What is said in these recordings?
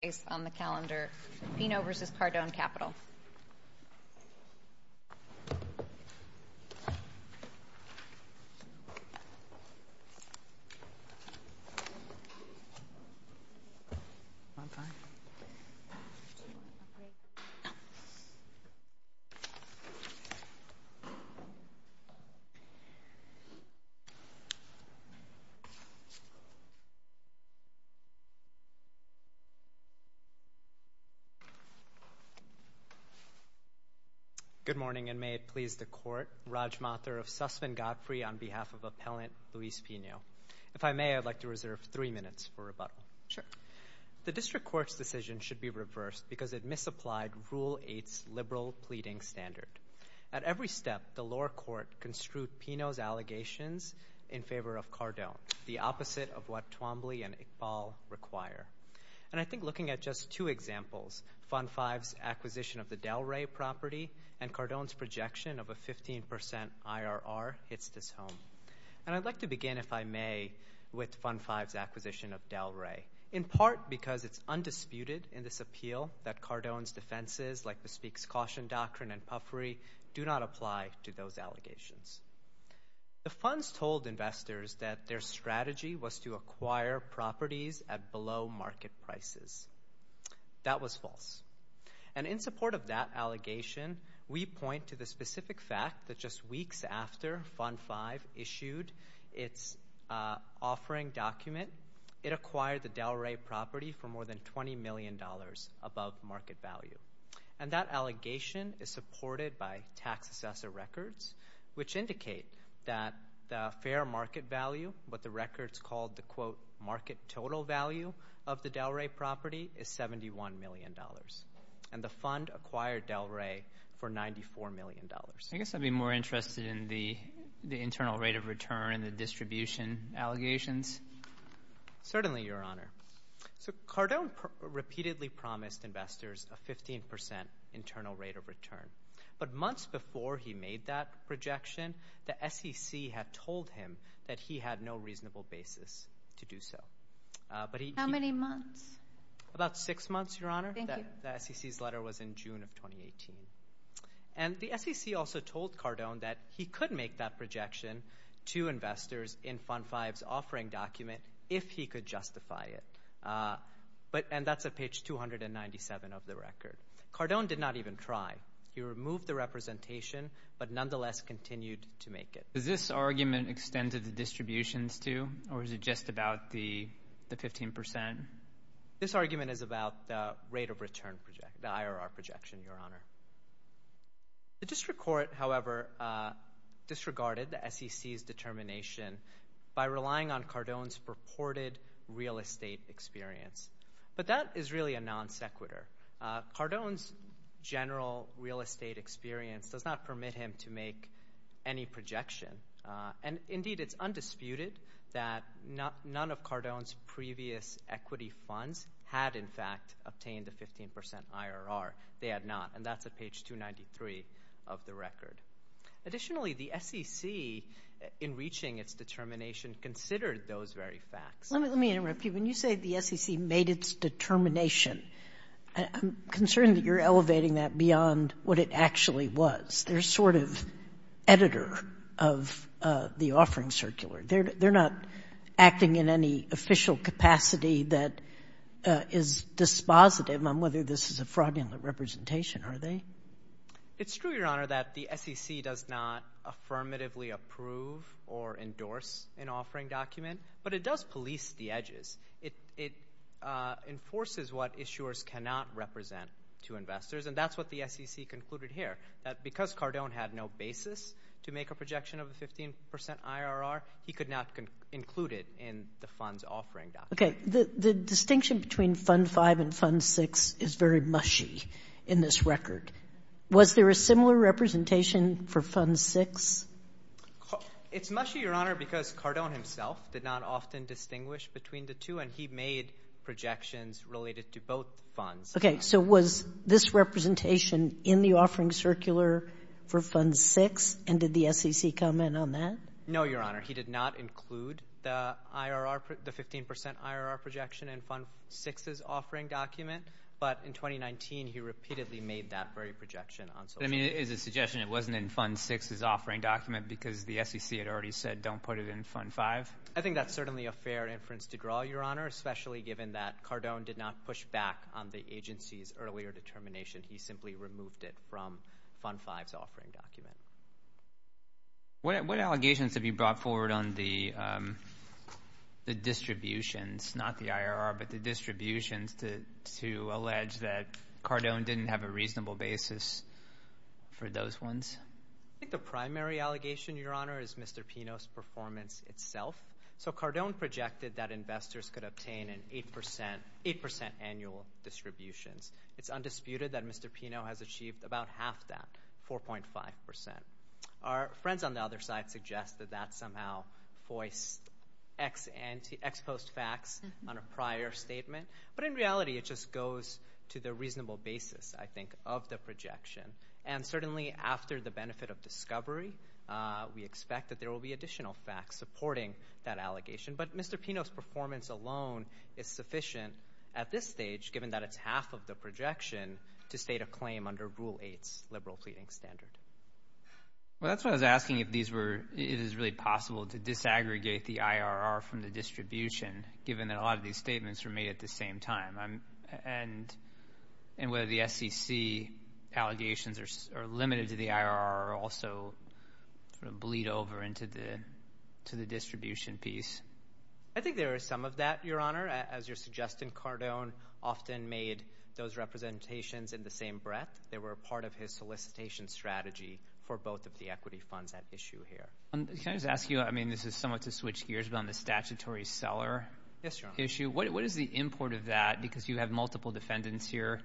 Pino v. Cardone Capital. Good morning, and may it please the Court, Raj Mathur of Sussman Godfrey on behalf of Appellant Luis Pino. If I may, I'd like to reserve three minutes for rebuttal. The District Court's decision should be reversed because it misapplied Rule 8's liberal pleading standard. At every step, the lower court construed Pino's allegations in favor of Cardone, the examples Fund 5's acquisition of the Delray property and Cardone's projection of a 15% IRR hits this home. And I'd like to begin, if I may, with Fund 5's acquisition of Delray, in part because it's undisputed in this appeal that Cardone's defenses, like Bespeak's Caution Doctrine and Puffery, do not apply to those allegations. The funds told investors that their strategy was to acquire properties at below market prices. That was false. And in support of that allegation, we point to the specific fact that just weeks after Fund 5 issued its offering document, it acquired the Delray property for more than $20 million above market value. And that allegation is supported by tax assessor records, which indicate that the fair market value, what the records called the, quote, market total value of the Delray property, is $71 million. And the fund acquired Delray for $94 million. I guess I'd be more interested in the internal rate of return, the distribution allegations. Certainly, Your Honor. So Cardone repeatedly promised investors a 15% internal rate of return before he made that projection. The SEC had told him that he had no reasonable basis to do so. How many months? About six months, Your Honor. Thank you. The SEC's letter was in June of 2018. And the SEC also told Cardone that he could make that projection to investors in Fund 5's offering document if he could justify it. And that's at page 297 of the record. Cardone did not even try. He removed the representation, but nonetheless continued to make it. Does this argument extend to the distributions, too? Or is it just about the 15%? This argument is about the rate of return, the IRR projection, Your Honor. The district court, however, disregarded the SEC's determination by relying on Cardone's purported real estate experience. But that is really a non sequitur. Cardone's general real estate experience does not permit him to make any projection. And indeed, it's undisputed that none of Cardone's previous equity funds had in fact obtained a 15% IRR. They had not. And that's at page 293 of the record. Additionally, the SEC, in reaching its determination, considered those very facts. Let me interrupt you. When you say the SEC made its determination, I'm concerned that you're elevating that beyond what it actually was. They're sort of editor of the offering circular. They're not acting in any official capacity that is dispositive on whether this is a fraudulent representation, are they? It's true, Your Honor, that the SEC does not affirmatively approve or endorse an offering document. But it does police the edges. It enforces what issuers cannot represent to investors. And that's what the SEC concluded here, that because Cardone had no basis to make a projection of a 15% IRR, he could not include it in the fund's offering document. Okay. The distinction between Fund 5 and Fund 6 is very mushy in this record. Was there a similar representation for Fund 6? It's mushy, Your Honor, because Cardone himself did not often distinguish between the two, and he made projections related to both funds. Okay. So was this representation in the offering circular for Fund 6, and did the SEC comment on that? No, Your Honor. He did not include the 15% IRR projection in Fund 6's offering document. But in 2019, he repeatedly made that very projection on Social Security. I mean, is it a suggestion it wasn't in Fund 6's offering document because the SEC had already said, don't put it in Fund 5? I think that's certainly a fair inference to draw, Your Honor, especially given that Cardone did not push back on the agency's earlier determination. He simply removed it from Fund 5's offering document. Okay. What allegations have you brought forward on the distributions, not the IRR, but the distributions to allege that Cardone didn't have a reasonable basis for those ones? I think the primary allegation, Your Honor, is Mr. Pino's performance itself. So Cardone projected that investors could obtain an 8% annual distributions. It's undisputed that our friends on the other side suggest that that somehow voiced ex-post facts on a prior statement. But in reality, it just goes to the reasonable basis, I think, of the projection. And certainly after the benefit of discovery, we expect that there will be additional facts supporting that allegation. But Mr. Pino's performance alone is sufficient at this stage, given that it's half of the projection, to state a claim under Rule 8's liberal pleading standard. Well, that's what I was asking, if it is really possible to disaggregate the IRR from the distribution, given that a lot of these statements were made at the same time. And whether the SEC allegations are limited to the IRR or also sort of bleed over into the distribution piece. I think there is some of that, Your Honor. As you're suggesting, Cardone often made those strategies for both of the equity funds at issue here. Can I just ask you, I mean, this is somewhat to switch gears, but on the statutory seller issue, what is the import of that? Because you have multiple defendants here,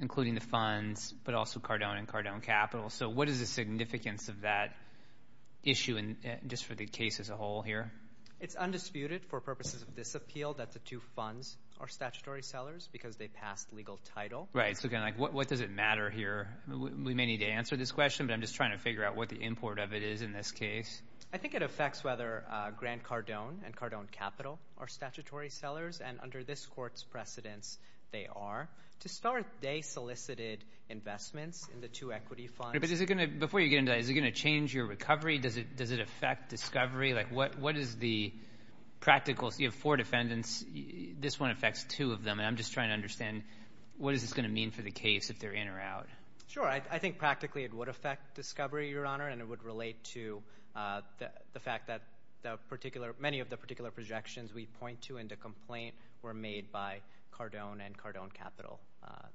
including the funds, but also Cardone and Cardone Capital. So what is the significance of that issue just for the case as a whole here? It's undisputed, for purposes of this appeal, that the two funds are statutory sellers, because they passed legal title. Right, so what does it matter here? We may need to answer this question, but I'm just trying to figure out what the import of it is in this case. I think it affects whether Grant Cardone and Cardone Capital are statutory sellers, and under this court's precedence, they are. To start, they solicited investments in the two equity funds. But is it going to, before you get into that, is it going to change your recovery? Does it affect discovery? What is the practical, so you have four defendants, this one affects two of them, and I'm just trying to understand, what is this going to mean for the case if they're in or out? Sure, I think practically it would affect discovery, Your Honor, and it would relate to the fact that many of the particular projections we point to in the complaint were made by Cardone and Cardone Capital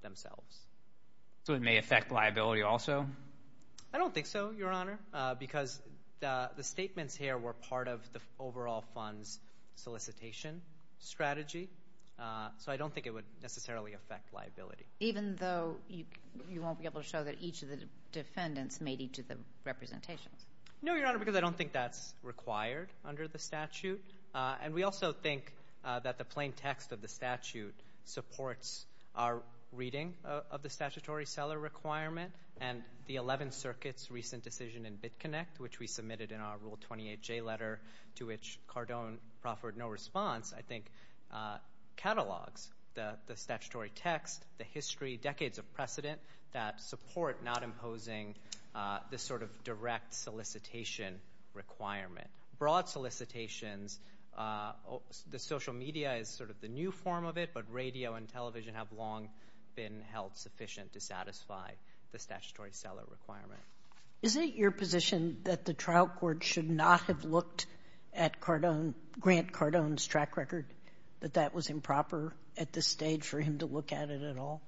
themselves. So it may affect liability also? I don't think so, Your Honor, because the statements here were part of the overall funds solicitation strategy. So I don't think it would necessarily affect liability. Even though you won't be able to show that each of the defendants made each of the representations? No, Your Honor, because I don't think that's required under the statute. And we also think that the plain text of the statute supports our reading of the statutory seller requirement and the Eleventh Circuit's recent decision in BitConnect, which we submitted in our Rule 28J letter to which Cardone proffered no response, I think catalogs the statutory text, the history, decades of precedent that support not imposing this sort of direct solicitation requirement. Broad solicitations, the social media is sort of the new form of it, but radio and television have long been held sufficient to satisfy the statutory seller requirement. Is it your position that the trial court should not have looked at Cardone, Grant Cardone's track record, that that was improper at this stage for him to look at it at all?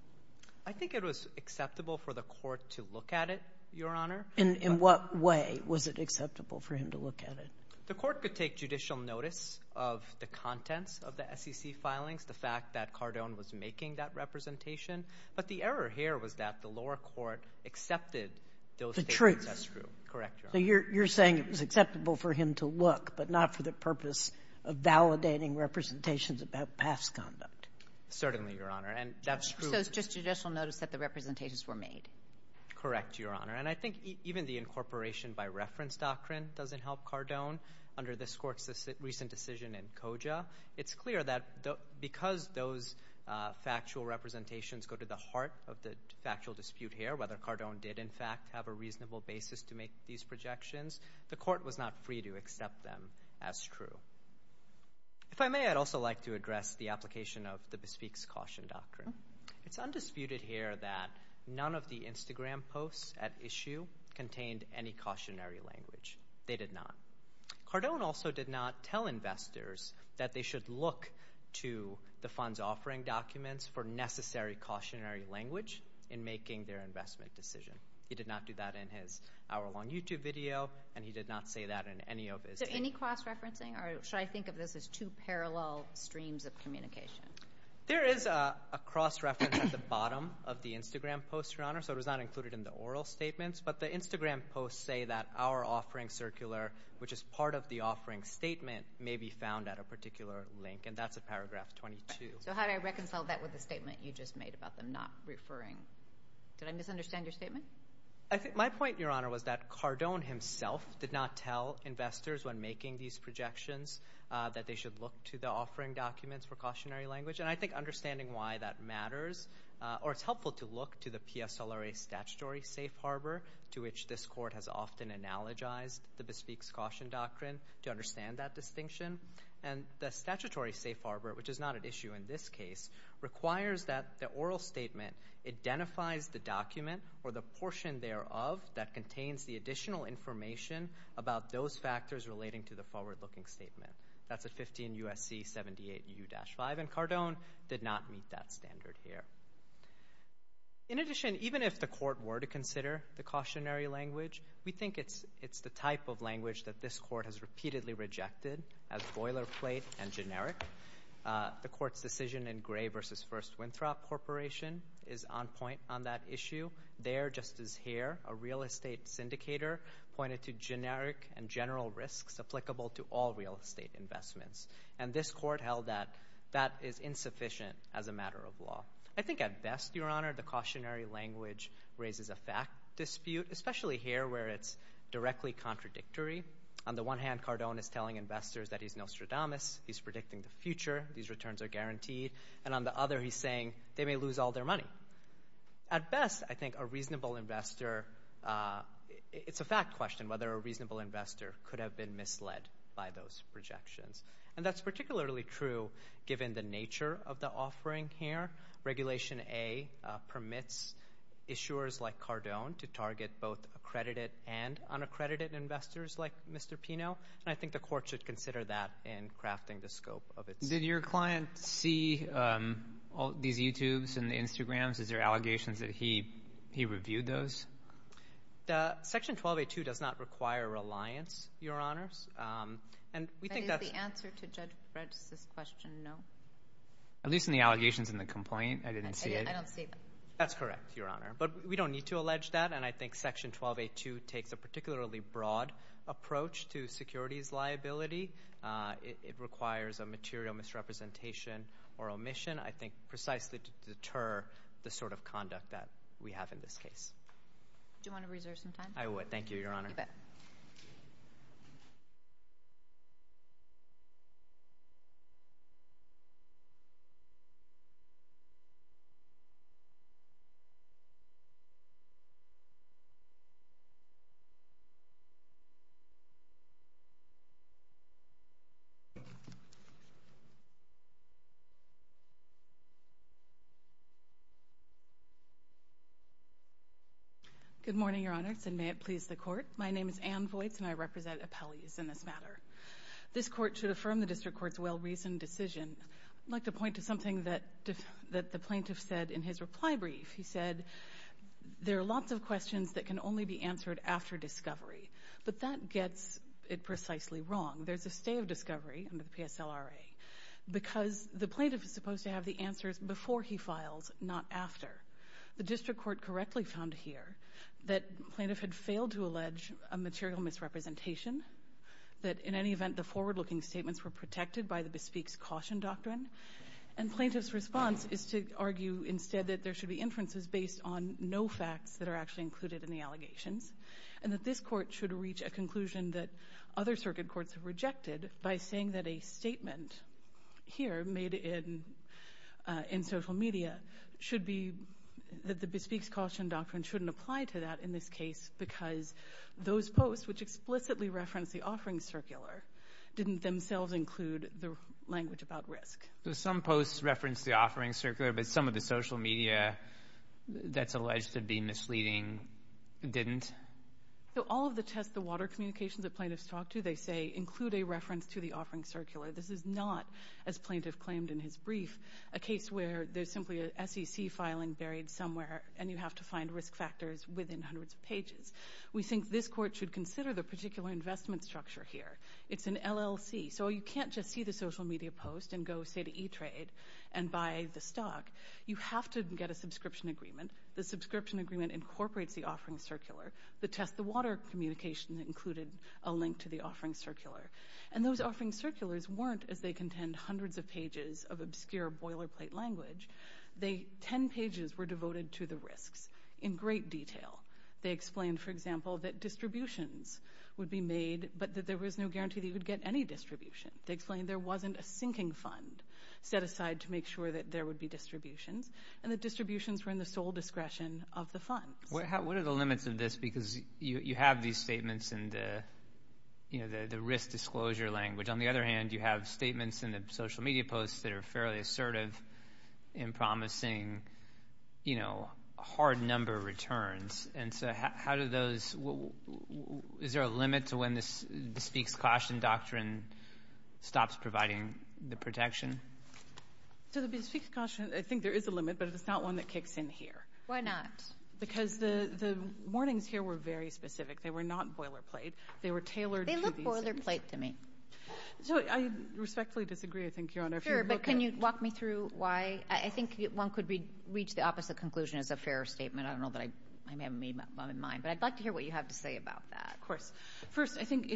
I think it was acceptable for the court to look at it, Your Honor. In what way was it acceptable for him to look at it? The court could take judicial notice of the contents of the SEC filings, the fact that Cardone was making that representation. But the error here was that the lower court accepted those statements. The truth. That's true. Correct, Your Honor. So you're saying it was acceptable for him to look, but not for the purpose of validating representations about past conduct? Certainly, Your Honor. And that's true. So it's just judicial notice that the representations were made. Correct, Your Honor. And I think even the incorporation by reference doctrine doesn't help Cardone under this court's recent decision in COJA. It's clear that because those factual representations go to the heart of the factual dispute here, whether they in fact have a reasonable basis to make these projections, the court was not free to accept them as true. If I may, I'd also like to address the application of the Bespeak's Caution Doctrine. It's undisputed here that none of the Instagram posts at issue contained any cautionary language. They did not. Cardone also did not tell investors that they should look to the fund's offering documents for necessary cautionary language in making their investment decision. He did not do that in his hour-long YouTube video, and he did not say that in any of his— Is there any cross-referencing? Or should I think of this as two parallel streams of communication? There is a cross-reference at the bottom of the Instagram post, Your Honor. So it was not included in the oral statements, but the Instagram posts say that our offering circular, which is part of the offering statement, may be found at a particular link, and that's at paragraph 22. So how do I reconcile that with the statement you just made about them not referring— Did I misunderstand your statement? My point, Your Honor, was that Cardone himself did not tell investors when making these projections that they should look to the offering documents for cautionary language. And I think understanding why that matters—or it's helpful to look to the PSLRA statutory safe harbor, to which this Court has often analogized the Bespeak's Caution Doctrine, to understand that distinction. And the statutory safe harbor, which is not at issue in this case, requires that the oral statement identifies the document or the portion thereof that contains the additional information about those factors relating to the forward-looking statement. That's at 15 U.S.C. 78U-5, and Cardone did not meet that standard here. In addition, even if the Court were to consider the cautionary language, we think it's the type of language that this Court has repeatedly rejected as boilerplate and generic. The Court's decision in Gray v. First Winthrop Corporation is on point on that issue. There, just as here, a real estate syndicator pointed to generic and general risks applicable to all real estate investments. And this Court held that that is insufficient as a matter of law. I think at best, Your Honor, the cautionary language raises a fact dispute, especially here where it's directly contradictory. On the one hand, Cardone is telling investors that he's Nostradamus. He's predicting the future. These returns are guaranteed. And on the other, he's saying they may lose all their money. At best, I think a reasonable investor – it's a fact question whether a reasonable investor could have been misled by those projections. And that's particularly true given the nature of the offering here. Regulation A permits issuers like Cardone to target both accredited and unaccredited investors like Mr. Pino. And I think the Court should consider that in crafting the scope of its – Did your client see all these YouTubes and the Instagrams? Is there allegations that he reviewed those? Section 12a2 does not require reliance, Your Honors. And we think that's – Is the answer to Judge Brett's question no? At least in the allegations in the complaint, I didn't see it. I don't see it. That's correct, Your Honor. But we don't need to allege that. And I think Section 12a2 takes a particularly broad approach to securities liability. It requires a material misrepresentation or omission, I think, precisely to deter the sort of conduct that we have in this case. Do you want to reserve some time? I would. Thank you, Your Honor. You bet. Thank you. Good morning, Your Honors, and may it please the Court. My name is Ann Voights, and I represent appellees in this matter. This Court should affirm the District Court's well-reasoned decision. I'd like to point to something that the plaintiff said in his reply brief. He said there are lots of questions that can only be answered after discovery. But that gets it precisely wrong. There's a stay of discovery under the PSLRA because the plaintiff is supposed to have the answers before he files, not after. The District Court correctly found here that the plaintiff had failed to allege a material misrepresentation, that in any event the forward-looking statements were protected by the Bespeak's Caution Doctrine. And plaintiff's response is to argue instead that there should be inferences based on no facts that are actually included in the allegations, and that this Court should reach a conclusion that other circuit courts have rejected by saying that a statement here made in social media should be that the Bespeak's Caution Doctrine shouldn't apply to that in this case because those posts which explicitly reference the offering circular didn't themselves include the language about risk. So some posts reference the offering circular, but some of the social media that's alleged to be misleading didn't? So all of the tests, the water communications that plaintiffs talk to, they say, include a reference to the offering circular. This is not, as plaintiff claimed in his brief, a case where there's simply an SEC filing buried somewhere and you have to find risk factors within hundreds of pages. We think this Court should consider the particular investment structure here. It's an LLC, so you can't just see the social media post and go, say, to E-Trade and buy the stock. You have to get a subscription agreement. The subscription agreement incorporates the offering circular. The test the water communications included a link to the offering circular. And those offering circulars weren't, as they contend, hundreds of pages of obscure boilerplate language. Ten pages were devoted to the risks in great detail. They explained, for example, that distributions would be made, but that there was no guarantee that you would get any distribution. They explained there wasn't a sinking fund set aside to make sure that there would be distributions and that distributions were in the sole discretion of the funds. What are the limits of this? Because you have these statements in the risk disclosure language. On the other hand, you have statements in the social media posts that are fairly assertive and promising, you know, hard number returns. And so how do those – is there a limit to when the speaks-caution doctrine stops providing the protection? So the speaks-caution, I think there is a limit, but it's not one that kicks in here. Why not? Because the warnings here were very specific. They were not boilerplate. They were tailored to these things. They look boilerplate to me. So I respectfully disagree, I think, Your Honor. Sure, but can you walk me through why? I think one could reach the opposite conclusion as a fairer statement. I don't know that I may have made mine, but I'd like to hear what you have to say about that. Of course. First, I think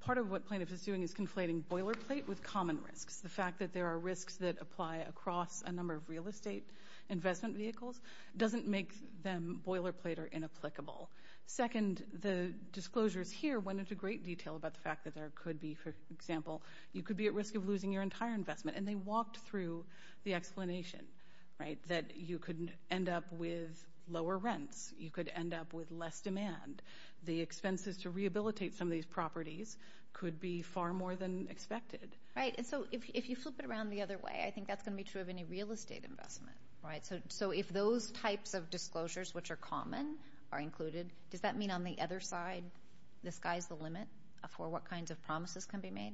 part of what plaintiff is doing is conflating boilerplate with common risks. The fact that there are risks that apply across a number of real estate investment vehicles doesn't make them boilerplate or inapplicable. Second, the disclosures here went into great detail about the fact that there could be, for example, you could be at risk of losing your entire investment. And they walked through the explanation that you could end up with lower rents. You could end up with less demand. The expenses to rehabilitate some of these properties could be far more than expected. Right. And so if you flip it around the other way, I think that's going to be true of any real estate investment. Right. So if those types of disclosures, which are common, are included, does that mean on the other side, the sky's the limit for what kinds of promises can be made?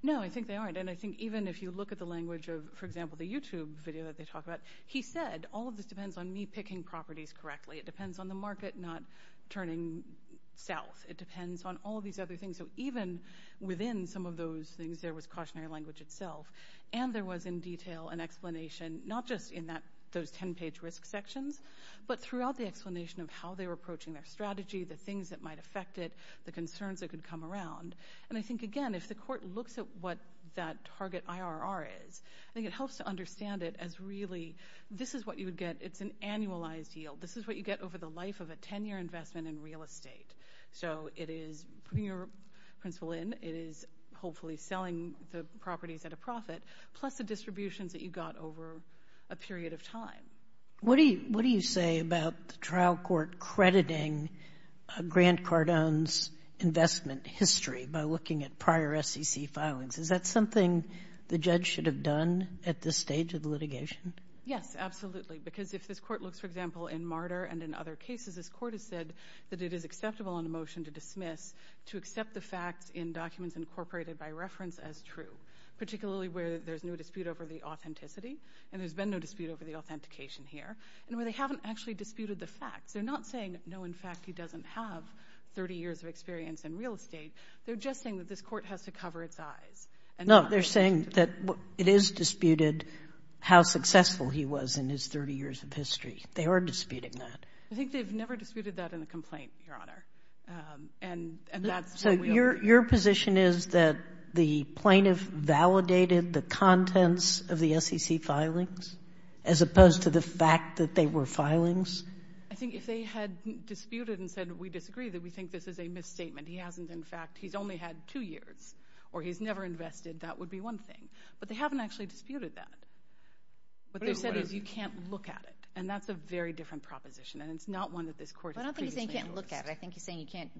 No, I think they aren't. And I think even if you look at the language of, for example, the YouTube video that they talk about, he said all of this depends on me picking properties correctly. It depends on the market not turning south. It depends on all these other things. So even within some of those things, there was cautionary language itself. And there was in detail an explanation, not just in those 10-page risk sections, but throughout the explanation of how they were approaching their strategy, the things that might affect it, the concerns that could come around. And I think, again, if the court looks at what that target IRR is, I think it helps to understand it as really this is what you would get. It's an annualized yield. This is what you get over the life of a 10-year investment in real estate. So it is putting your principal in. It is hopefully selling the properties at a profit, plus the distributions that you got over a period of time. What do you say about the trial court crediting Grant Cardone's investment history by looking at prior SEC filings? Is that something the judge should have done at this stage of the litigation? Yes, absolutely, because if this court looks, for example, in Marder and in other cases, this court has said that it is acceptable in a motion to dismiss to accept the facts in documents incorporated by reference as true, particularly where there's no dispute over the authenticity, and there's been no dispute over the authentication here, and where they haven't actually disputed the facts. They're not saying, no, in fact, he doesn't have 30 years of experience in real estate. They're just saying that this court has to cover its eyes. No, they're saying that it is disputed how successful he was in his 30 years of history. They are disputing that. I think they've never disputed that in a complaint, Your Honor. So your position is that the plaintiff validated the contents of the SEC filings as opposed to the fact that they were filings? I think if they had disputed and said, we disagree, that we think this is a misstatement. He hasn't, in fact. He's only had two years, or he's never invested. That would be one thing. But they haven't actually disputed that. What they've said is you can't look at it, and that's a very different proposition, and it's not one that this court has previously heard. I think you're saying you can't.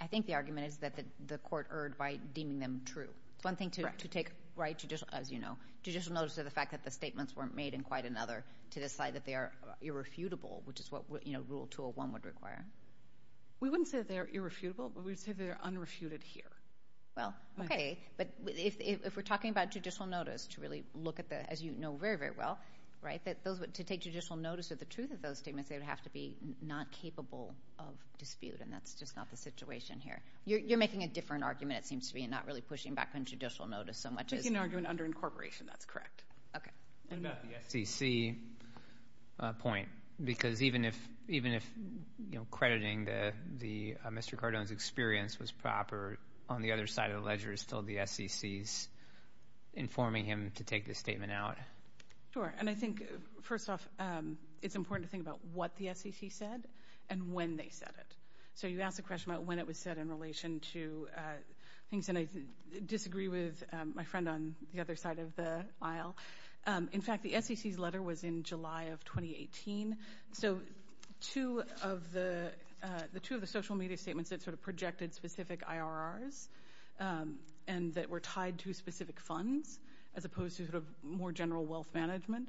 I think the argument is that the court erred by deeming them true. It's one thing to take judicial notice of the fact that the statements weren't made in quite another to decide that they are irrefutable, which is what Rule 201 would require. We wouldn't say they're irrefutable, but we would say they're unrefuted here. Well, okay. But if we're talking about judicial notice to really look at the, as you know very, very well, to take judicial notice of the truth of those statements, they would have to be not capable of dispute, and that's just not the situation here. You're making a different argument, it seems to me, and not really pushing back on judicial notice so much as You're making an argument under incorporation. That's correct. Okay. And about the SEC point, because even if crediting Mr. Cardone's experience was proper, on the other side of the ledger is still the SEC's informing him to take this statement out. Sure. And I think, first off, it's important to think about what the SEC said and when they said it. So you asked a question about when it was said in relation to things, and I disagree with my friend on the other side of the aisle. In fact, the SEC's letter was in July of 2018. So two of the social media statements that sort of projected specific IRRs and that were tied to specific funds, as opposed to sort of more general wealth management,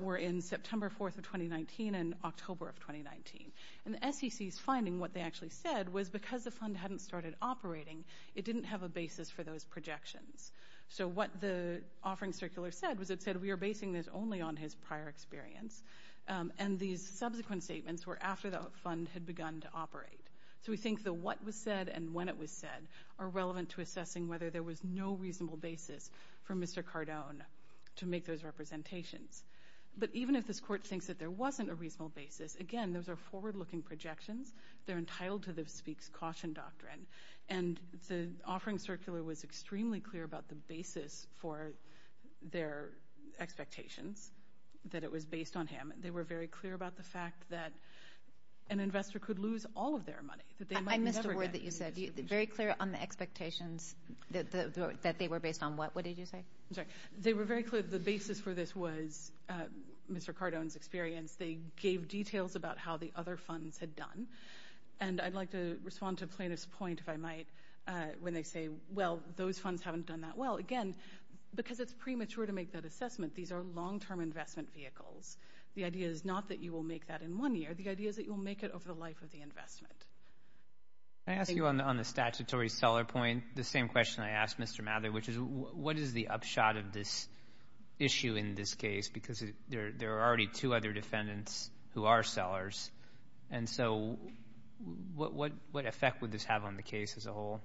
were in September 4th of 2019 and October of 2019. And the SEC's finding, what they actually said, was because the fund hadn't started operating, it didn't have a basis for those projections. So what the offering circular said was it said, we are basing this only on his prior experience, and these subsequent statements were after the fund had begun to operate. So we think the what was said and when it was said are relevant to assessing whether there was no reasonable basis for Mr. Cardone to make those representations. But even if this court thinks that there wasn't a reasonable basis, again, those are forward-looking projections. They're entitled to the speaks-caution doctrine. And the offering circular was extremely clear about the basis for their expectations, that it was based on him. They were very clear about the fact that an investor could lose all of their money. I missed a word that you said. Very clear on the expectations that they were based on what? What did you say? They were very clear that the basis for this was Mr. Cardone's experience. They gave details about how the other funds had done. And I'd like to respond to Plaintiff's point, if I might, when they say, well, those funds haven't done that well. Again, because it's premature to make that assessment, these are long-term investment vehicles. The idea is not that you will make that in one year. The idea is that you will make it over the life of the investment. Can I ask you on the statutory seller point the same question I asked Mr. Mather, which is what is the upshot of this issue in this case? Because there are already two other defendants who are sellers. And so what effect would this have on the case as a whole?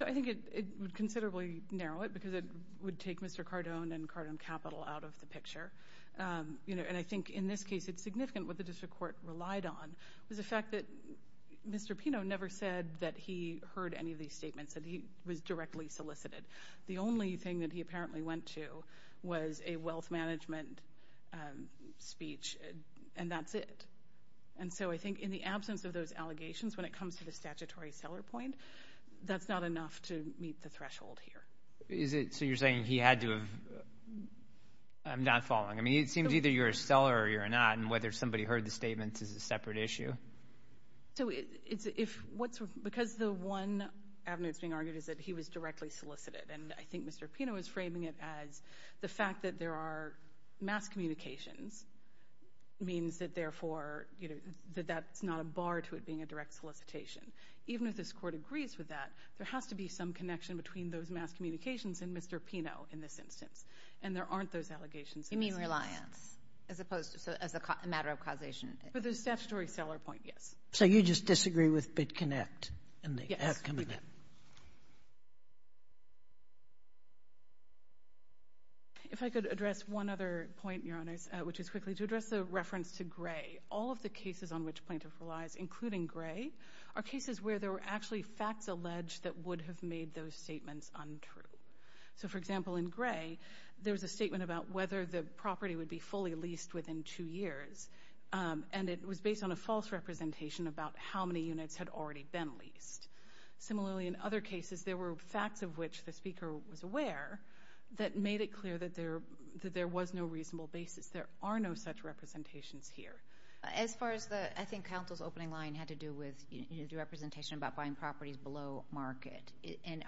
I think it would considerably narrow it because it would take Mr. Cardone and Cardone Capital out of the picture. And I think in this case it's significant what the district court relied on was the fact that Mr. Pino never said that he heard any of these statements, that he was directly solicited. The only thing that he apparently went to was a wealth management speech, and that's it. And so I think in the absence of those allegations, when it comes to the statutory seller point, that's not enough to meet the threshold here. So you're saying he had to have not fallen. I mean, it seems either you're a seller or you're not, and whether somebody heard the statements is a separate issue. Because the one avenue that's being argued is that he was directly solicited, and I think Mr. Pino is framing it as the fact that there are mass communications means that therefore that's not a bar to it being a direct solicitation. Even if this court agrees with that, there has to be some connection between those mass communications and Mr. Pino in this instance. And there aren't those allegations in this case. You mean reliance as opposed to as a matter of causation? For the statutory seller point, yes. So you just disagree with BitConnect in the outcome of that? Yes, we do. If I could address one other point, Your Honors, which is quickly, to address the reference to Gray. All of the cases on which plaintiff relies, including Gray, are cases where there were actually facts alleged that would have made those statements untrue. So, for example, in Gray, there was a statement about whether the property would be fully leased within two years, and it was based on a false representation about how many units had already been leased. Similarly, in other cases, there were facts of which the speaker was aware that made it clear that there was no reasonable basis. There are no such representations here. As far as the ‑‑ I think counsel's opening line had to do with the representation about buying properties below market.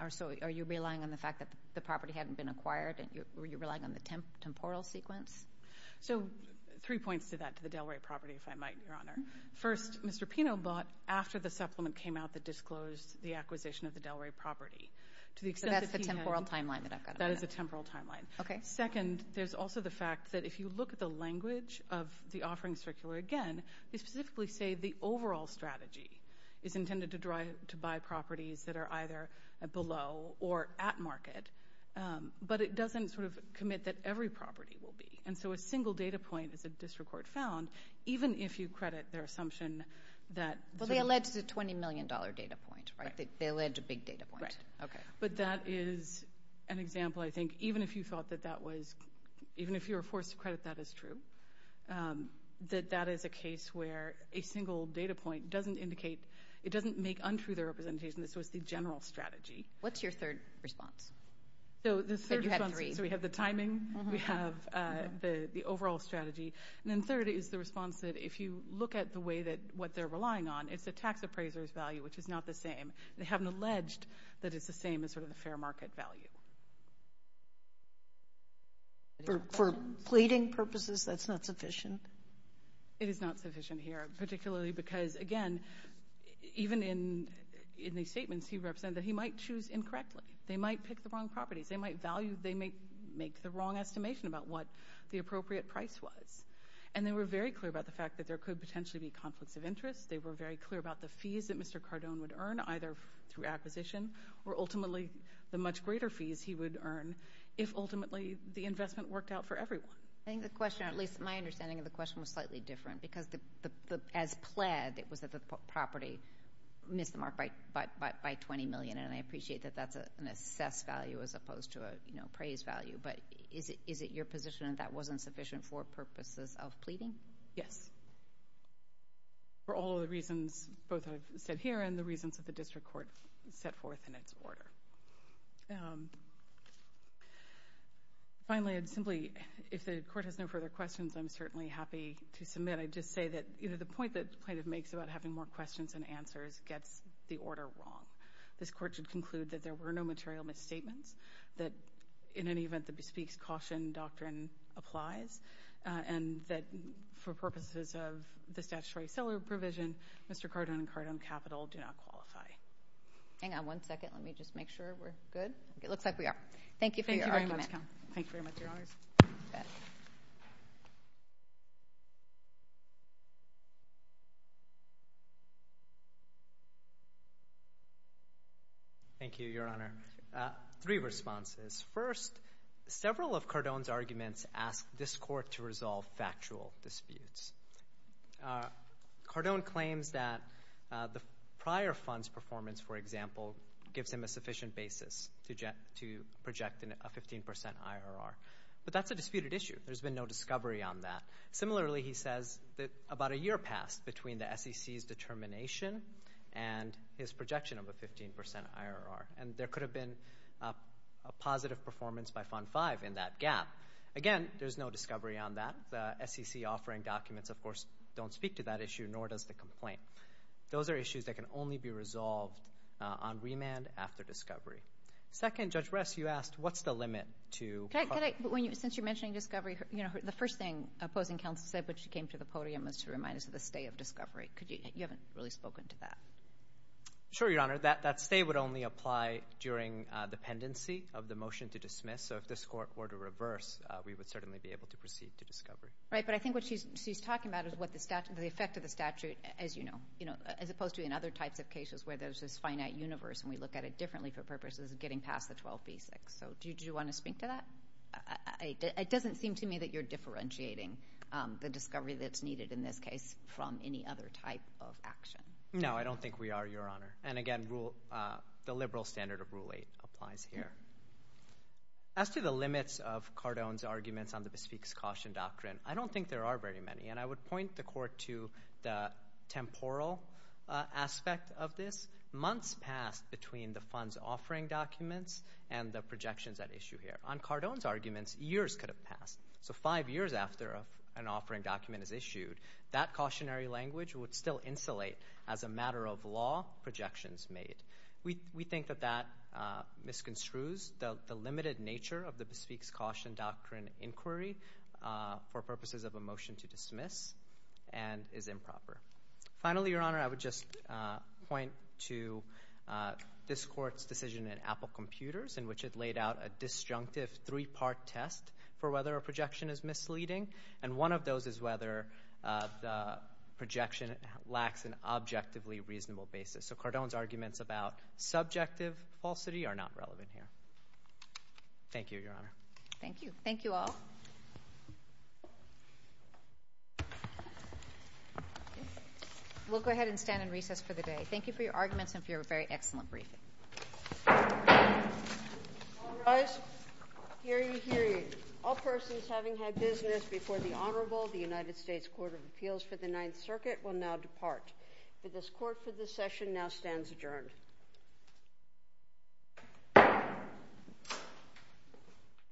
So are you relying on the fact that the property hadn't been acquired? Were you relying on the temporal sequence? So three points to that, to the Delray property, if I might, Your Honor. First, Mr. Pino bought after the supplement came out that disclosed the acquisition of the Delray property. So that's the temporal timeline that I've got. That is the temporal timeline. Okay. Second, there's also the fact that if you look at the language of the offering circular again, they specifically say the overall strategy is intended to buy properties that are either below or at market, but it doesn't sort of commit that every property will be. And so a single data point is a disrecord found, even if you credit their assumption that ‑‑ Well, they allege the $20 million data point, right? They allege a big data point. Right. But that is an example, I think, that even if you thought that that was ‑‑ even if you were forced to credit that as true, that that is a case where a single data point doesn't indicate ‑‑ it doesn't make untrue their representation. This was the general strategy. What's your third response? So the third response is we have the timing. We have the overall strategy. And then third is the response that if you look at the way that what they're relying on, it's a tax appraiser's value, which is not the same. They haven't alleged that it's the same as sort of the fair market value. For pleading purposes, that's not sufficient? It is not sufficient here, particularly because, again, even in the statements he represented, he might choose incorrectly. They might pick the wrong properties. They might make the wrong estimation about what the appropriate price was. And they were very clear about the fact that there could potentially be conflicts of interest. They were very clear about the fees that Mr. Cardone would earn, either through acquisition or ultimately the much greater fees he would earn if ultimately the investment worked out for everyone. I think the question, or at least my understanding of the question, was slightly different because as pled, it was that the property missed the mark by 20 million. And I appreciate that that's an assessed value as opposed to a praised value. But is it your position that that wasn't sufficient for purposes of pleading? Yes, for all the reasons both I've said here and the reasons that the district court set forth in its order. Finally, I'd simply, if the court has no further questions, I'm certainly happy to submit. I'd just say that the point that plaintiff makes about having more questions than answers gets the order wrong. This court should conclude that there were no material misstatements, that in any event the bespeaks caution doctrine applies, and that for purposes of the statutory seller provision, Mr. Cardone and Cardone Capital do not qualify. Hang on one second. Let me just make sure we're good. It looks like we are. Thank you for your argument. Thank you very much, Counsel. Thank you very much, Your Honors. Thank you, Your Honor. Three responses. First, several of Cardone's arguments ask this court to resolve factual disputes. Cardone claims that the prior fund's performance, for example, gives him a sufficient basis to project a 15% IRR. But that's a disputed issue. There's been no discovery on that. Similarly, he says that about a year passed between the SEC's determination and his projection of a 15% IRR, and there could have been a positive performance by Fund 5 in that gap. Again, there's no discovery on that. The SEC offering documents, of course, don't speak to that issue, nor does the complaint. Those are issues that can only be resolved on remand after discovery. Second, Judge Rest, you asked, what's the limit to? Since you're mentioning discovery, the first thing opposing counsel said when she came to the podium was to remind us of the stay of discovery. You haven't really spoken to that. Sure, Your Honor. That stay would only apply during the pendency of the motion to dismiss. If this court were to reverse, we would certainly be able to proceed to discovery. But I think what she's talking about is the effect of the statute, as you know, as opposed to in other types of cases where there's this finite universe and we look at it differently for purposes of getting past the 12B6. Do you want to speak to that? It doesn't seem to me that you're differentiating the discovery that's needed, in this case, from any other type of action. No, I don't think we are, Your Honor. Again, the liberal standard of Rule 8 applies here. As to the limits of Cardone's arguments on the bespeak's caution doctrine, I don't think there are very many. I would point the court to the temporal aspect of this. Months passed between the fund's offering documents and the projections at issue here. On Cardone's arguments, years could have passed. So five years after an offering document is issued, that cautionary language would still insulate, as a matter of law, projections made. We think that that misconstrues the limited nature of the bespeak's caution doctrine inquiry for purposes of a motion to dismiss and is improper. Finally, Your Honor, I would just point to this court's decision in Apple Computers in which it laid out a disjunctive three-part test for whether a projection is misleading. And one of those is whether the projection lacks an objectively reasonable basis. So Cardone's arguments about subjective falsity are not relevant here. Thank you, Your Honor. Thank you. Thank you all. We'll go ahead and stand in recess for the day. Thank you for your arguments and for your very excellent briefing. All rise. Hear ye, hear ye. All persons having had business before the Honorable, the United States Court of Appeals for the Ninth Circuit, will now depart. This court for this session now stands adjourned.